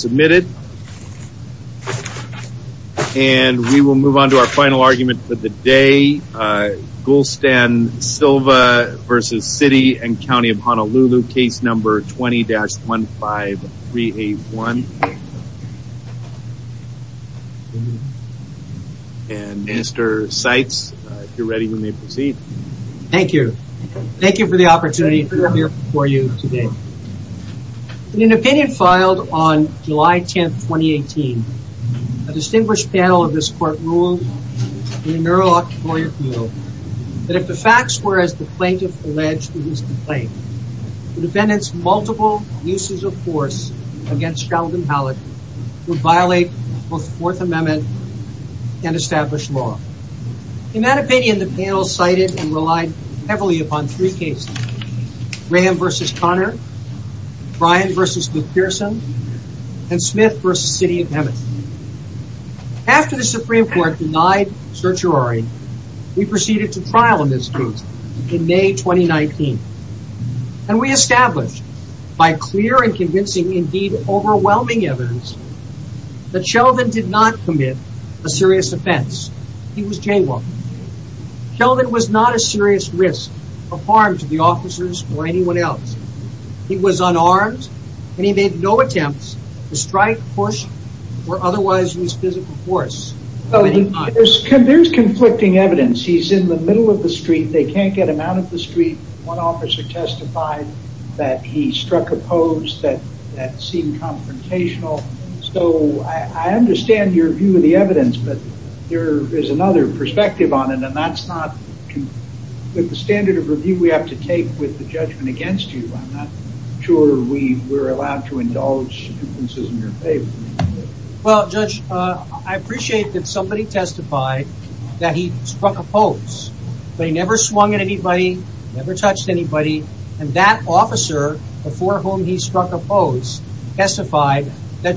Submitted. And we will move on to our final argument for the day. Gulstan Silva v. City and County of Honolulu, case number 20-15381. And Mr. Seitz, if you're ready, you may proceed. Thank you. Thank you for the opportunity to be here before you today. An opinion filed on July 10th, 2018. A distinguished panel of this court ruled in a neurological refutal that if the facts were as the plaintiff alleged in his complaint, the defendant's multiple uses of force against Sheldon Hallett would violate both Fourth Amendment and established law. In that opinion, the panel cited and relied heavily upon three cases. Graham v. Connor, Brian v. McPherson, and Smith v. City of Emmett. After the Supreme Court denied certiorari, we proceeded to trial in this case in May 2019. And we established by clear and convincing, indeed overwhelming evidence, that Sheldon did not commit a serious offense. He was jaywalking. Sheldon was not a serious risk or harm to the officers or anyone else. He was unarmed and he made no attempts to strike, push, or otherwise use physical force. There's conflicting evidence. He's in the middle of the street. They can't get him out of the street. One officer testified that he struck a pose that seemed confrontational. I understand your view of the evidence, but there is another perspective on it. And that's not the standard of review we have to take with the judgment against you. I'm not sure we were allowed to indulge in your favor. Well, Judge, I appreciate that somebody testified that he struck a pose, but he never swung at anybody, never touched anybody. And that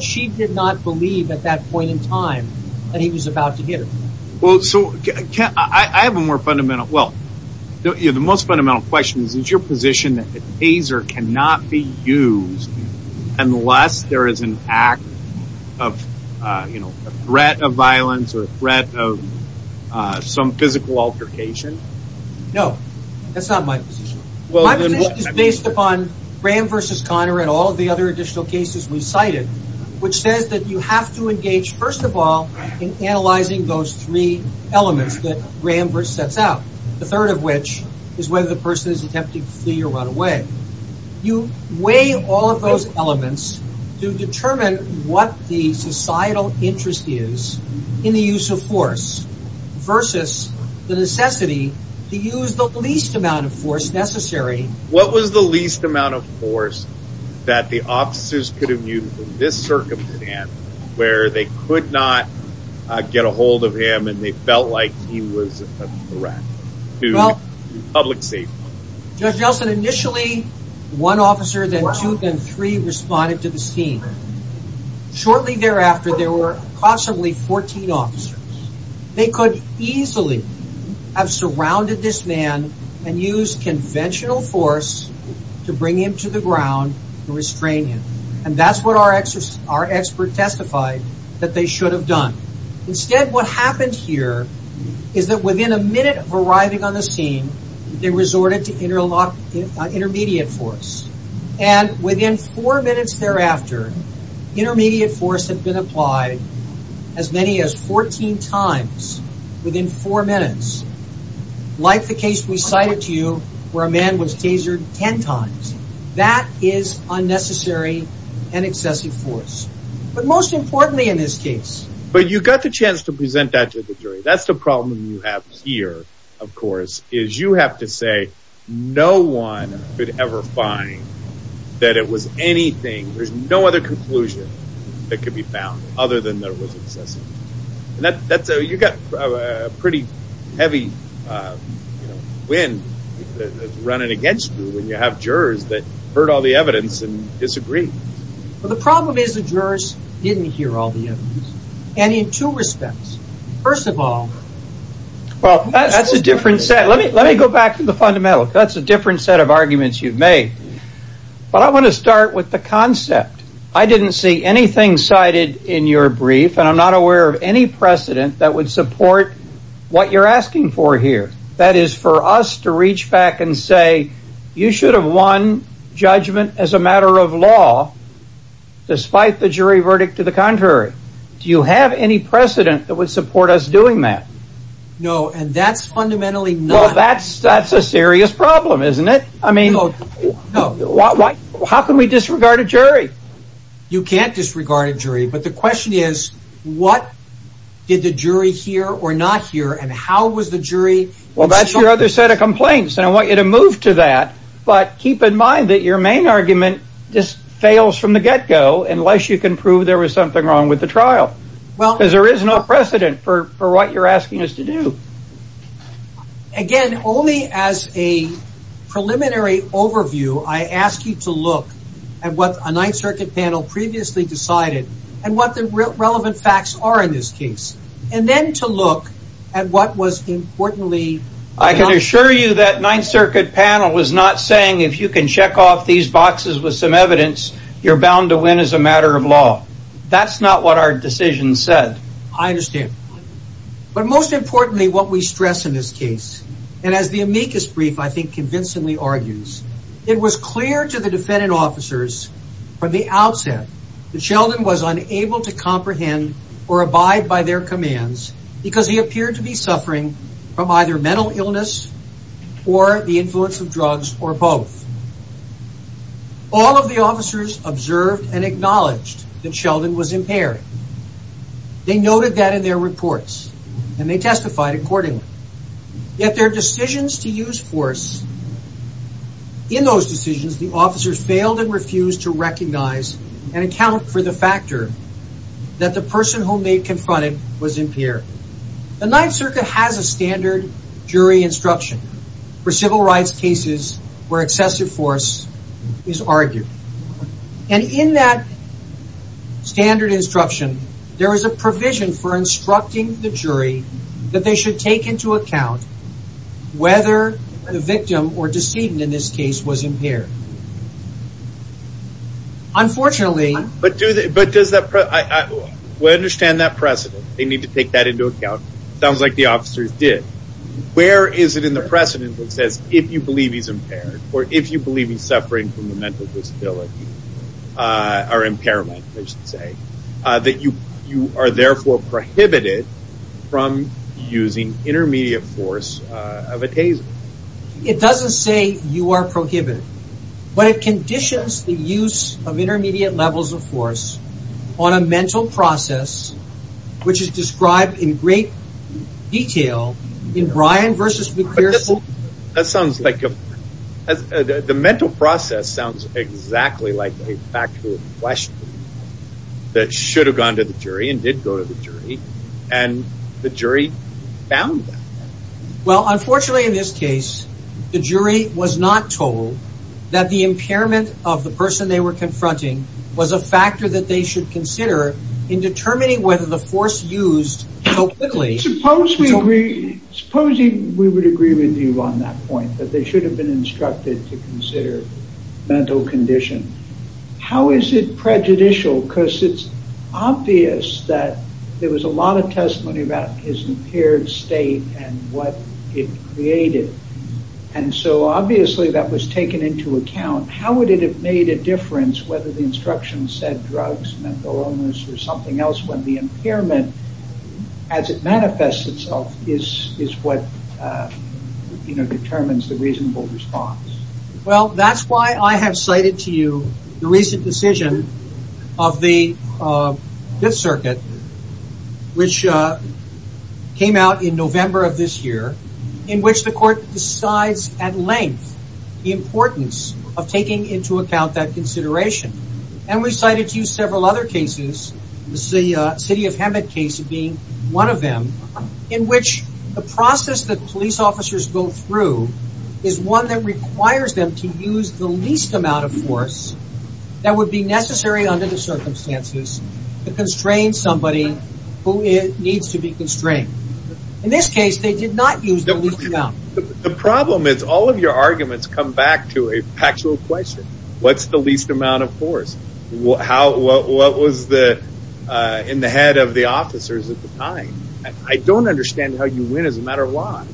she did not believe at that point in time that he was about to hit her. Well, so I have a more fundamental, well, the most fundamental question is, is your position that the taser cannot be used unless there is an act of, you know, a threat of violence or a threat of some physical altercation? No, that's not my position. My position is based upon Graham versus Conner and all of the other additional cases we've cited, which says that you have to engage first of all in analyzing those three elements that Graham sets out. The third of which is whether the person is attempting to flee or run away. You weigh all of those elements to determine what the societal interest is in the use of force versus the necessity to use the least amount of force necessary. What was the least amount of force that the officers could have used in this circumstance where they could not get a hold of him and they felt like he was a threat to public safety? Judge Nelson, initially one officer, then two, then three responded to the scheme. Shortly thereafter, there were possibly 14 officers. They could easily have surrounded this man and used conventional force to bring him to the ground and restrain him. And that's what our expert testified that they should have done. Instead, what happened here is that within a minute of arriving on the scene, they resorted to intermediate force. And within four minutes thereafter, intermediate force had been applied as many as 14 times within four minutes. Like the case we cited to you where a man was tasered 10 times. That is unnecessary and excessive force. But most importantly in this case... But you got the chance to present that to the jury. That's the problem you have here, of course, is you have to say no one could ever find that it was anything, there's no other conclusion that could be found other than there was excessive force. You got a pretty heavy wind that's running against you when you have jurors that heard all the evidence and disagree. The problem is the jurors didn't hear all the evidence. And in two respects. First of all... Well that's a different set. Let me go back to the fundamental. That's a different set of arguments you've made. But I want to start with the concept. I didn't see anything cited in your brief and I'm not aware of any precedent that would support what you're asking for here. That is for us to reach back and say you should have won judgment as a matter of law despite the jury verdict to the contrary. Do you have any precedent that would support us doing that? No, and that's fundamentally not... That's a serious problem, isn't it? How can we disregard a jury? You can't disregard a jury, but the question is what did the jury hear or not hear and how was the jury... Well that's your other set of complaints and I want you to move to that, but keep in mind that your main argument just fails from the get-go unless you can prove there was something wrong with the trial. Because there is no Again, only as a preliminary overview, I ask you to look at what a Ninth Circuit panel previously decided and what the relevant facts are in this case. And then to look at what was importantly... I can assure you that Ninth Circuit panel was not saying if you can check off these boxes with some evidence, you're bound to win as a matter of law. That's not what our decision said. I understand. But most importantly what we stress in this case, and as the amicus brief I think convincingly argues, it was clear to the defendant officers from the outset that Sheldon was unable to comprehend or abide by their commands because he appeared to be suffering from either mental illness or the influence of drugs or both. All of the officers observed and acknowledged that Sheldon was impaired. They noted that in their reports and they testified accordingly. Yet their decisions to use force, in those decisions the officers failed and refused to recognize and account for the factor that the person whom they confronted was impaired. The Ninth Circuit has a standard jury instruction for civil rights cases where excessive force is argued. And in that standard instruction there is a provision for instructing the jury that they should take into account whether the victim or decedent in this case was impaired. Unfortunately... But does that... I understand that precedent. They need to take that into account. Sounds like the officers did. Where is it in the precedent that says if you believe he's impaired or if you believe he's suffering from a mental disability, or impairment I should say, that you are therefore prohibited from using intermediate force of a taser? It doesn't say you are prohibited. But it conditions the use of intermediate levels of force on a mental process which is described in great detail in Bryan v. McPherson. The mental process sounds exactly like a factual question that should have gone to the jury and did go to the jury. And the jury found that. Well unfortunately in this case the jury was not told that the impairment of the person they were confronting was a factor that they should consider in determining whether the force used... Suppose we agree with you on that point. They should have been instructed to consider mental condition. How is it prejudicial because it's obvious that there was a lot of testimony about his impaired state and what it created. So obviously that was taken into account. How would it have made a difference whether the instruction said drugs, mental illness or something else when the impairment as it manifests itself is what determines the reasonable response? That's why I have cited to you the recent decision of the 5th circuit which came out in November of this year in which the court decides at length the importance of taking into account that consideration. And we cited to you several other cases, the city of Hemet case being one of them, in which the process that police officers go through is one that requires them to use the least amount of force that would be necessary under the circumstances to constrain somebody who needs to be constrained. In this case they did not use the least amount. The problem is all of your arguments come back to a factual question. What's the least amount of force? What was in the head of the officers at the time? I don't understand how you win as a matter of law.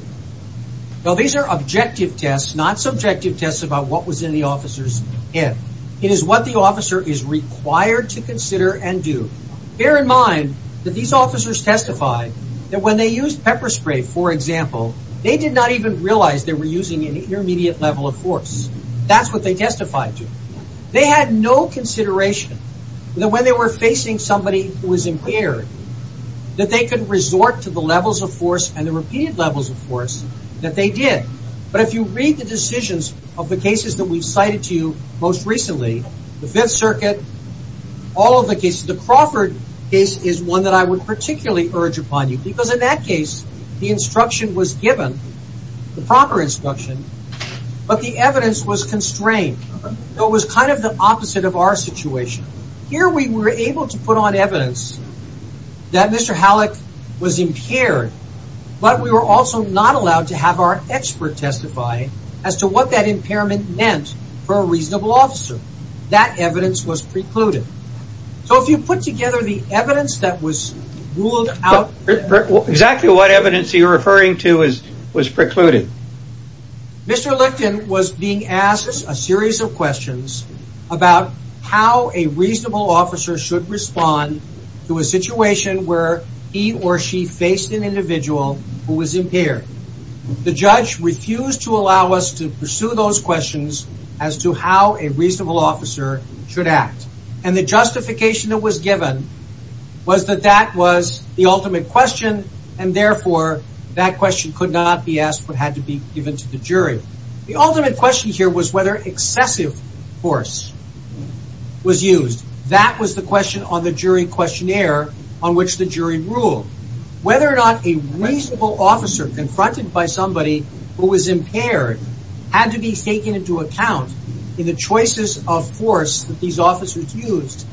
These are objective tests, not subjective tests about what was in the officer's head. It is what the officer is required to consider and do. Bear in mind that these officers testified that when they used pepper spray, for example, they did not even realize they were using an intermediate level of force. That's what they testified to. They had no consideration that when they were facing somebody who was impaired that they could resort to the levels of force and the repeated levels of force that they did. But if you read the decisions of the cases that we cited to you most recently, the Fifth Circuit, all of the cases, the Crawford case is one that I would particularly urge upon you because in that case the instruction was given, the proper instruction, but the evidence was constrained. It was kind of the opposite of our situation. Here we were able to put on evidence that Mr. Halleck was impaired, but we were also not allowed to have our expert testify as to what that impairment meant for a reasonable officer. That evidence was precluded. So if you put together the evidence that was ruled out... Exactly what evidence are you referring to was precluded? Mr. Licton was being asked a series of questions about how a reasonable officer should respond to a situation where he or she faced an individual who was impaired. The judge refused to allow us to pursue those questions as to how a reasonable officer should act. And the justification that was given was that that was the ultimate question and therefore that question could not be asked but had to be given to the jury. The ultimate question here was whether excessive force was used. That was the question on the jury questionnaire on which the jury ruled. Whether or not a reasonable officer confronted by somebody who was impaired had to be taken into account in the choices of force that these officers used.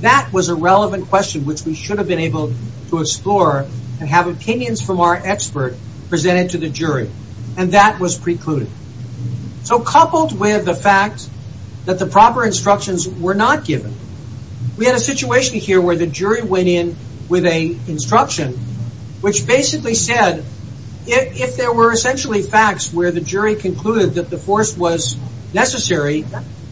That was a relevant question which we should have been able to explore and have opinions from our expert presented to the jury. And that was precluded. So coupled with the fact that the proper instructions were not given. We had a situation here where the jury went in with an instruction which basically said if there were essentially facts where the jury concluded that the force was necessary,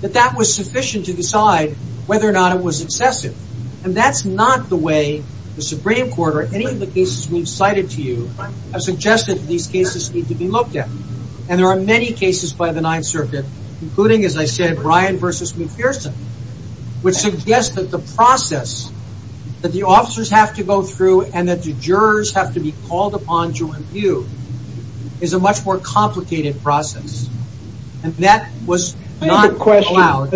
that that was sufficient to decide whether or not it was excessive. And that's not the way the Supreme Court or any of the cases we've cited to you have suggested that these cases need to be looked at. And there are many cases by the Ninth Circuit including as I said Brian versus McPherson which suggests that the process that the officers have to go through and that the jurors have to be called upon to review is a much more complicated process. And that was not allowed.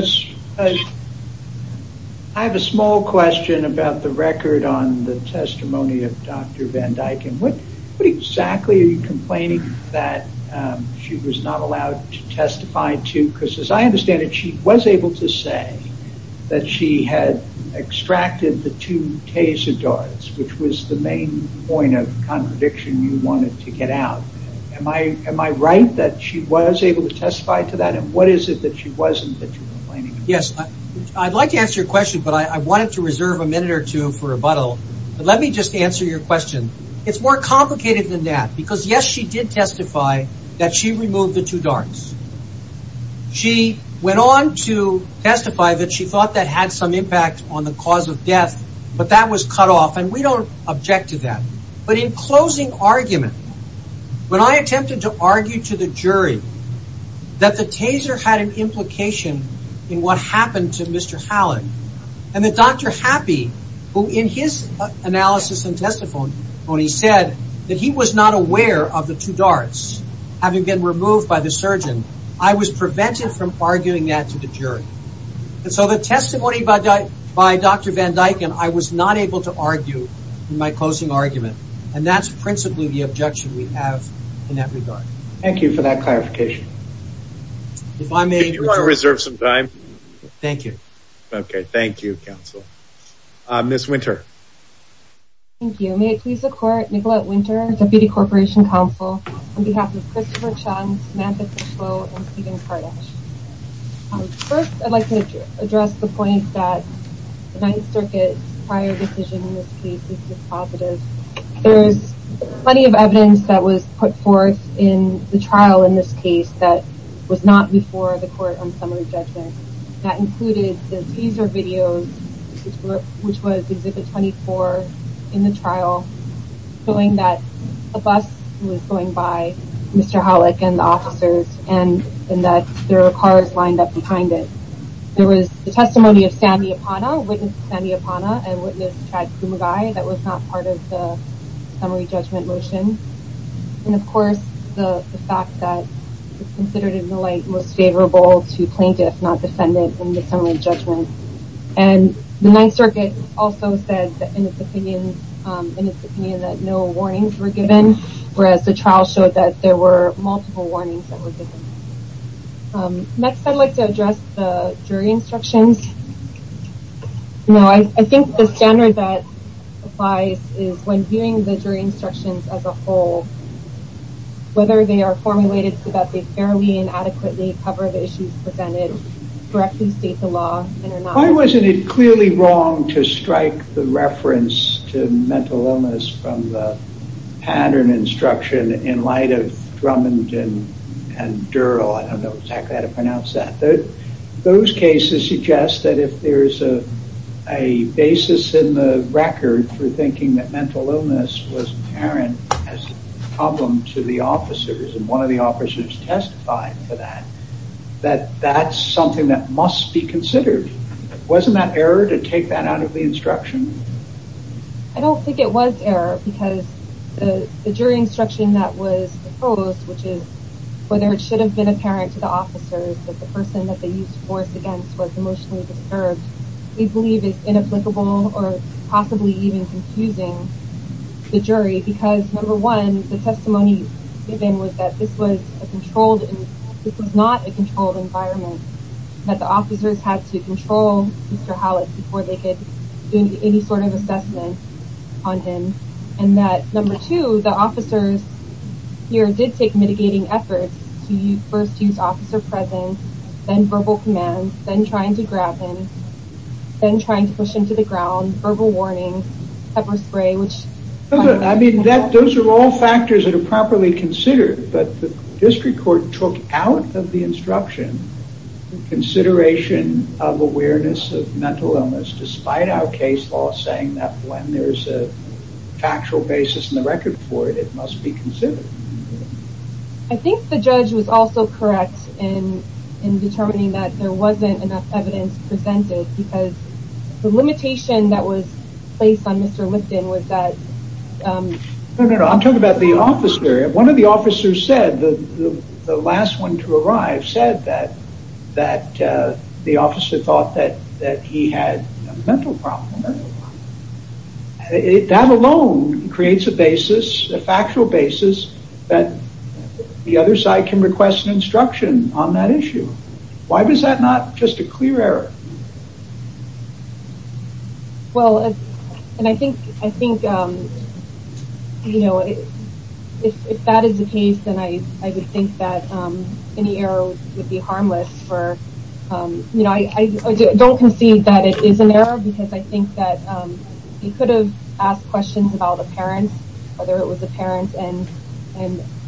I have a small question about the record on the testimony of Dr. Van Dyken. What exactly are you complaining that she was not allowed to testify to? Because as I understand it she was able to say that she had extracted the two taser darts which was the main point of contradiction you wanted to get out. Am I right that she was able to testify to that? And what is it that she wasn't? I'd like to answer your question but I wanted to reserve a minute or two for rebuttal. Let me just answer your question. It's more complicated than that because yes she did testify that she removed the two darts. She went on to testify that she thought that had some impact on the cause of death but that was cut off and we don't object to that. But in closing argument, when I attempted to argue to the jury that the taser had an implication in what happened to Mr. Hallett and that Dr. Happy, who in his analysis and testimony said that he was not aware of the two darts having been removed by the surgeon, I was prevented from arguing that to the jury. So the testimony by Dr. Van Dyken I was not able to argue in my closing argument. And that's principally the objection we have in that regard. Thank you for that clarification. If I may, Could you reserve some time? Thank you. Okay, thank you counsel. Ms. Winter. Thank you. May it please the court, Nicolette Winter, Deputy Corporation Counsel, on behalf of Christopher Chung, Samantha Fishlow, and Steven Kardash. First, I'd like to address the point that the Ninth Circuit's prior decision in this case is just positive. There's plenty of evidence that was put forth in the trial in this case that was not before the court on summary judgment. That included the taser videos, which was Exhibit 24 in the trial showing that a bus was going by Mr. Hallett and the officers and that there were cars lined up behind it. There was the testimony of Sandy Apana, witness Sandy Apana and witness Chad Kumagai that was not part of the summary judgment motion. And, of course, the fact that it's considered in the light most favorable to plaintiff, not defendant, in the summary judgment. And the Ninth Circuit also said that in its opinion that no warnings were given, whereas the trial showed that there were multiple warnings that were given. Next, I'd like to address the jury instructions. I think the standard that holds, whether they are formulated so that they fairly and adequately cover the issues presented, directly state the law. Why wasn't it clearly wrong to strike the reference to mental illness from the pattern instruction in light of Drummond and Durrell? I don't know exactly how to pronounce that. Those cases suggest that if there's a basis in the record for thinking that mental illness was apparent as a problem to the officers and one of the officers testified to that, that that's something that must be considered. Wasn't that error to take that out of the instruction? I don't think it was error because the jury instruction that was proposed, which is whether it should have been apparent to the officers that the person that they used force against was emotionally disturbed, we believe is inapplicable or possibly even confusing the jury because, number one, the testimony given was that this was a controlled, this was not a controlled environment, that the officers had to control Mr. Howlett before they could do any sort of assessment on him and that, number two, the officers here did take mitigating efforts to first use officer presence, then verbal command, then trying to grab him, then trying to push him to the ground, verbal warning, pepper spray, which... I mean, those are all factors that are properly considered, but the district court took out of the instruction consideration of awareness of mental illness despite our case law saying that when there's a factual basis in the record for it, it must be considered. I think the judge was also correct in determining that there wasn't enough evidence presented because the limitation that was placed on Mr. Lipton was that... No, no, no. I'm talking about the officer. One of the officers said, the last one to arrive, said that the officer thought that he had a mental problem. That alone creates a basis, a factual basis that the other side can request instruction on that issue. Why was that not just a clear error? Well, and I think if that is the case, then I would think that any error would be harmless for... I don't concede that it is an error because I think that he could have asked questions about the parents, whether it was the parents and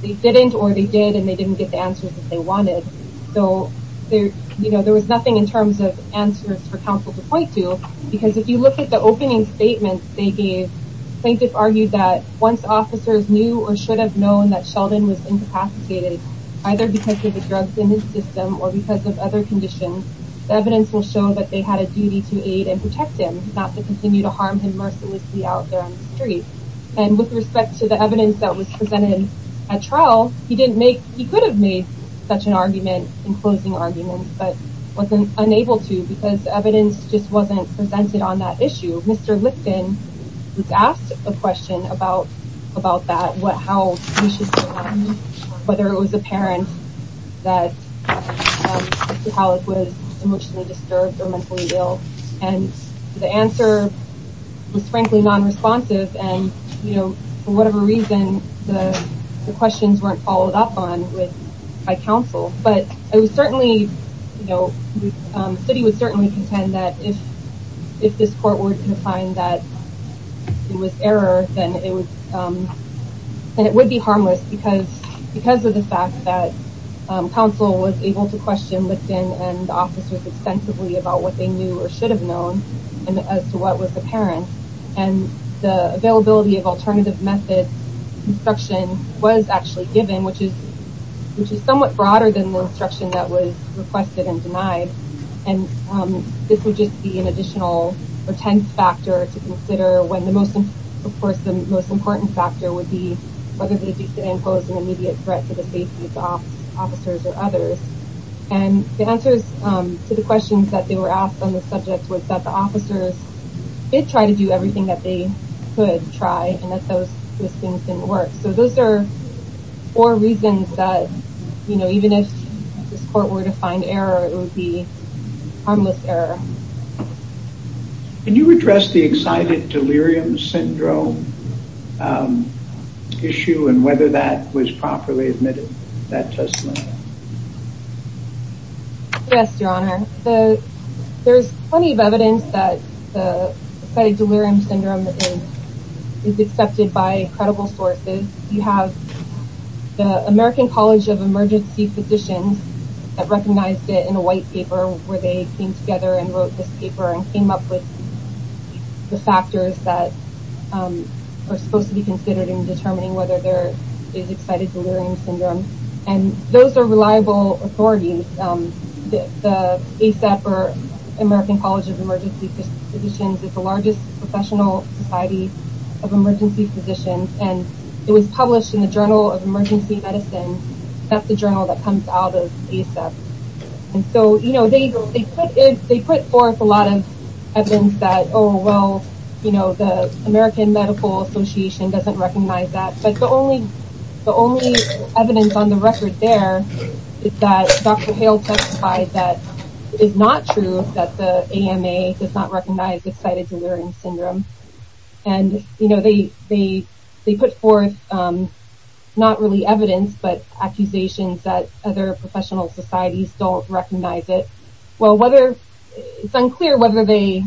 they didn't or they did and they didn't get the answers that they wanted. So there was nothing in terms of answers for counsel to point to, because if you look at the opening statements they gave, plaintiff argued that once officers knew or should have known that Sheldon was incapacitated, either because of the drugs in his system or because of other conditions, the evidence will show that they had a duty to aid and protect him, not to continue to harm him mercilessly out there on the street. And with respect to the such an argument in closing arguments, but wasn't unable to because evidence just wasn't presented on that issue. Mr. Lipton was asked a question about that, what, how, whether it was apparent that Mr. Halleck was emotionally disturbed or mentally ill. And the answer was frankly non-responsive. And, you know, for whatever reason, the questions weren't followed up on by counsel, but it was certainly, you know, the city would certainly contend that if this court were to find that it was error, then it would be harmless because of the fact that counsel was able to question Lipton and the officers extensively about what they knew or should have known and as to what was apparent. And the availability of alternative methods instruction was actually given, which is, which is somewhat broader than the instruction that was requested and denied. And this would just be an additional or tense factor to consider when the most important, of course, the most important factor would be whether they did impose an immediate threat to the safety of the officers or others. And the answers to the questions that they were asked on the subject was that the officers did try to do everything that they could try and that those things didn't work. So those are four reasons that, you know, even if this court were to find error, it would be harmless error. Can you address the excited delirium syndrome issue and whether that was properly admitted in that testimony? Yes, Your Honor. So there's plenty of evidence that the excited delirium syndrome is, is accepted by credible sources. You have the American College of Emergency Physicians that recognized it in a white paper where they came together and wrote this paper and came up with the factors that are supposed to be considered in determining whether there is excited delirium syndrome. And those are reliable authorities. The ASAP or American College of Emergency Physicians is the largest professional society of emergency physicians. And it was published in the Journal of Emergency Medicine. That's the journal that comes out of ASAP. And so, you know, they put in, they put forth a lot of evidence that, oh, well, you know, American Medical Association doesn't recognize that. But the only, the only evidence on the record there is that Dr. Hale testified that it is not true that the AMA does not recognize excited delirium syndrome. And, you know, they, they, they put forth not really evidence, but accusations that other professional societies don't recognize it. Well, whether it's unclear whether they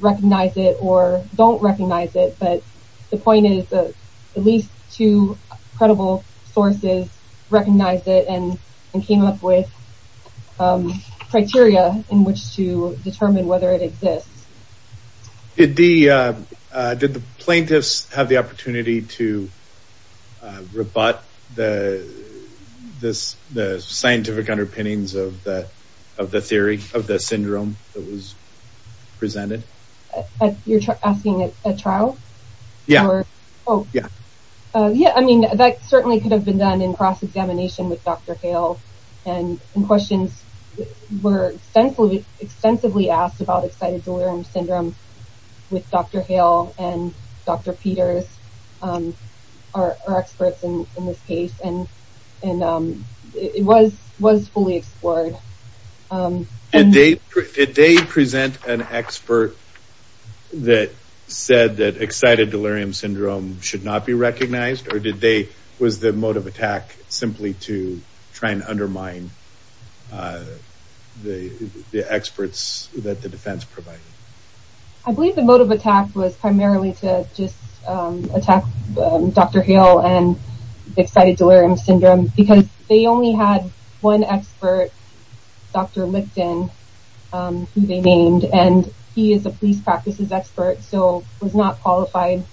recognize it or don't recognize it, but the point is that at least two credible sources recognize it and came up with criteria in which to determine whether it exists. Did the plaintiffs have the opportunity to rebut the, the scientific underpinnings of the, of the theory of the syndrome that was presented? You're asking a trial? Yeah. Oh, yeah. Yeah. I mean, that certainly could have been done in cross-examination with Dr. Hale and questions were extensively, extensively asked about excited delirium syndrome with Dr. Hale and Dr. Peters are experts in this case. And, and it was, was fully explored. And they, did they present an expert that said that excited delirium syndrome should not be recognized or did they, was the mode of attack simply to try and undermine the experts that the defense provided? I believe the mode of attack was primarily to just Dr. Lipton, who they named, and he is a police practices expert. So it was not qualified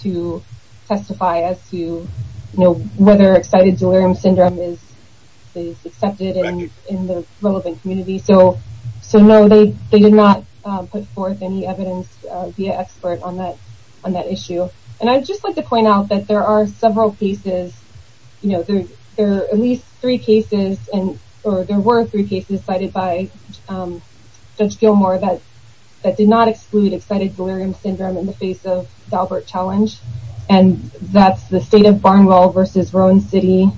to testify as to, you know, whether excited delirium syndrome is accepted in the relevant community. So, so no, they, they did not put forth any evidence via expert on that, on that issue. And I just like to point out that there are several cases, you know, there, at least three cases and, or there were three cases cited by judge Gilmore that, that did not exclude excited delirium syndrome in the face of Dalbert challenge. And that's the state of Barnwell versus Rhone city.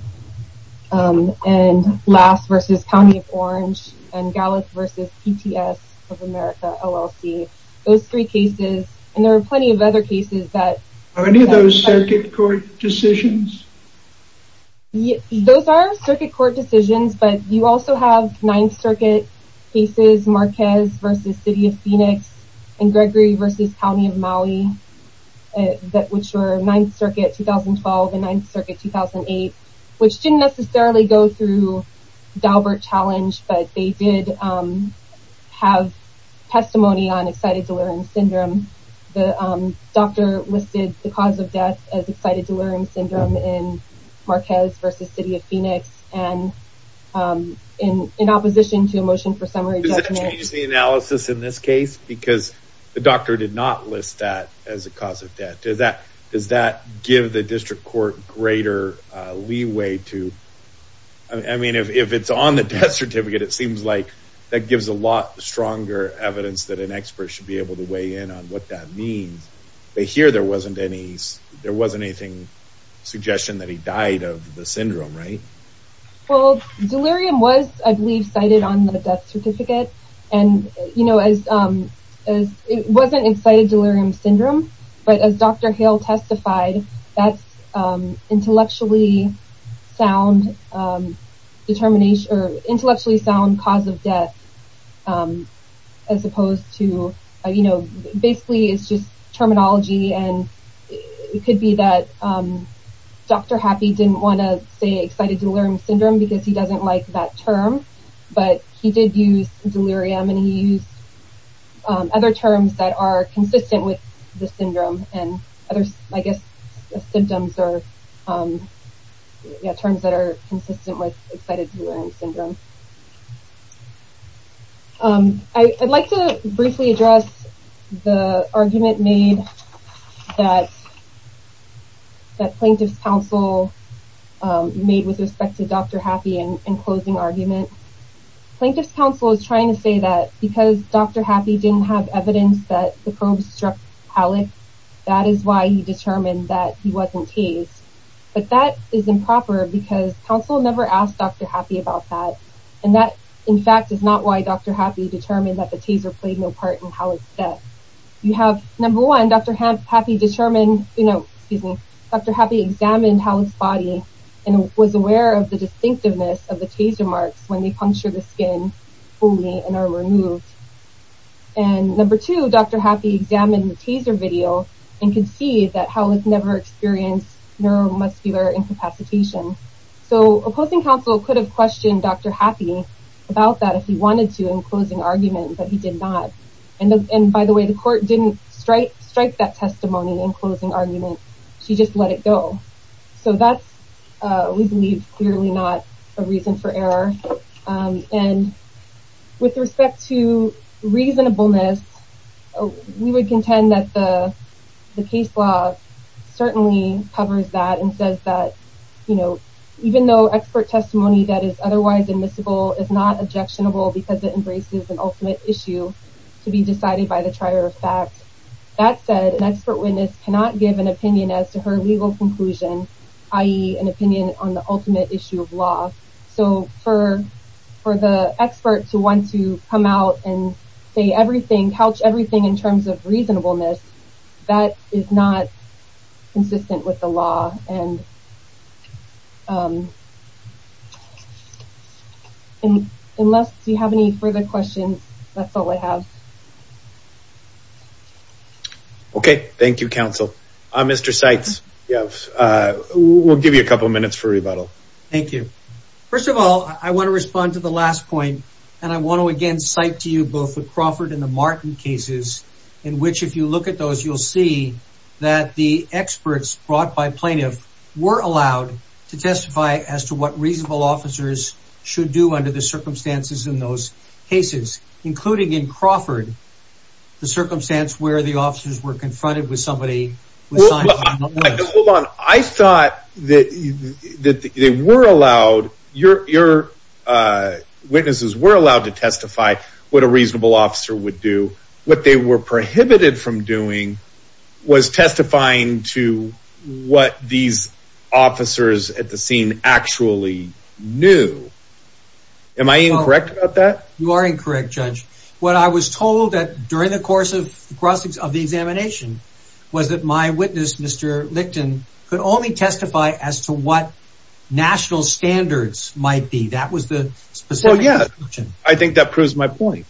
And last versus County of Orange and Gallup versus PTS of America, LLC, those three cases. And there were plenty of other cases that. Are any of those circuit court decisions? Yeah, those are circuit court decisions, but you also have ninth circuit cases, Marquez versus city of Phoenix and Gregory versus County of Maui that, which were ninth circuit, 2012 and ninth circuit, 2008, which didn't necessarily go through Dalbert challenge, but they did have testimony on excited delirium syndrome. The doctor listed the cause of death as excited delirium syndrome in Marquez versus city of Phoenix. And in, in opposition to a motion for summary analysis in this case, because the doctor did not list that as a cause of death. Does that, does that give the district court greater leeway to, I mean, if, if it's on the death certificate, it seems like that gives a lot stronger evidence that an expert should be able to weigh in on what that means. They hear there wasn't any, there wasn't anything suggestion that he died of the syndrome, right? Well, delirium was, I believe cited on the death certificate and you know, as, as it wasn't excited delirium syndrome, but as Dr. Hale testified, that's intellectually sound determination or to, you know, basically it's just terminology. And it could be that Dr. Happy didn't want to say excited delirium syndrome because he doesn't like that term, but he did use delirium and he used other terms that are consistent with the syndrome and others, I guess the symptoms are terms that are consistent with excited delirium syndrome. I'd like to briefly address the argument made that, that plaintiff's counsel made with respect to Dr. Happy and closing argument. Plaintiff's counsel is trying to say that because Dr. Happy didn't have evidence that the probes struck Halek, that is why he determined that he wasn't tased. But that is improper because counsel never asked Dr. Happy about that. And so, and that in fact is not why Dr. Happy determined that the taser played no part in Halek's death. You have number one, Dr. Happy determined, you know, excuse me, Dr. Happy examined Halek's body and was aware of the distinctiveness of the taser marks when they puncture the skin fully and are removed. And number two, Dr. Happy examined the taser video and can see that Halek never experienced neuromuscular incapacitation. So opposing counsel could have questioned Dr. Happy about that if he wanted to in closing argument, but he did not. And by the way, the court didn't strike that testimony in closing argument. She just let it go. So that's, we believe clearly not a reason for error. And with respect to reasonableness, we would contend that the case law certainly covers that and says that, you know, even though expert testimony that is otherwise admissible is not objectionable because it embraces an ultimate issue to be decided by the trier of facts. That said, an expert witness cannot give an opinion as to her legal conclusion, i.e. an opinion on the ultimate issue of law. So for the expert to want to come out and say everything, couch everything in terms of reasonableness, that is not consistent with the law. And unless you have any further questions, that's all I have. Okay. Thank you, counsel. Mr. Seitz, we'll give you a couple of minutes for rebuttal. Thank you. First of all, I want to respond to the last point. And I want to again cite to you both the Crawford and the Martin cases in which if you look at those, you'll see that the experts brought by plaintiff were allowed to testify as to what reasonable officers should do under the circumstances in those cases, including in Crawford, the circumstance where the officers were confronted with somebody. Hold on. I thought that they were allowed, your witnesses were allowed to testify what a reasonable officer would do. What they were prohibited from doing was testifying to what these officers at the scene actually knew. Am I incorrect about that? You are incorrect, Judge. What I was told that during the course of the examination was that my witness, Mr. Licton, could only testify as to what national standards might be. Well, yeah. I think that proves my point.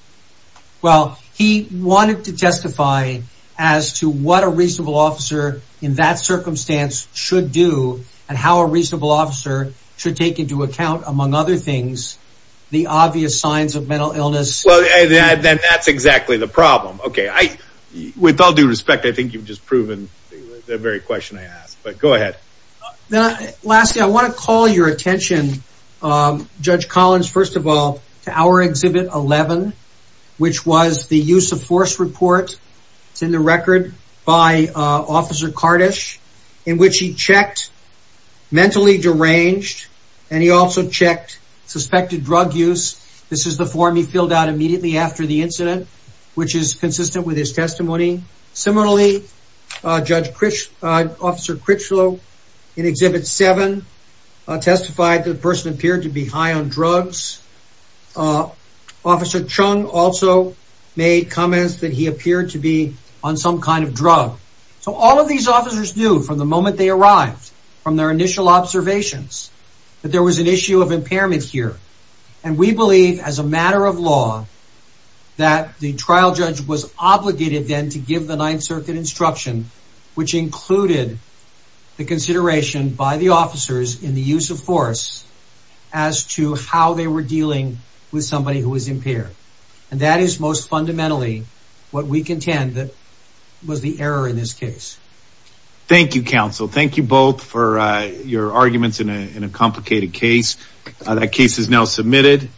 Well, he wanted to testify as to what a reasonable officer in that circumstance should do and how a reasonable officer should take into account, among other things, the obvious signs of mental illness. Well, then that's exactly the problem. Okay. With all due respect, I think you've just proven the very question I asked, but go ahead. Now, lastly, I want to call your attention, Judge Collins, first of all, to our Exhibit 11, which was the use of force report. It's in the record by Officer Kardash in which he checked mentally deranged and he also checked suspected drug use. This is the form he filled out immediately after the incident, which is consistent with his testimony. Similarly, Judge Critchlow in Exhibit 7 testified that the person appeared to be high on drugs. Officer Chung also made comments that he appeared to be on some kind of drug. So, all of these officers knew from the moment they arrived, from their initial observations, that there was an issue of impairment here. And we believe, as a matter of law, that the trial judge was obligated then to give the Ninth Circuit instruction, which included the consideration by the officers in the use of force as to how they were dealing with somebody who was impaired. And that is most fundamentally what we contend that was the error in this case. Thank you, counsel. Thank you both for your arguments in a complicated case. That case is now submitted.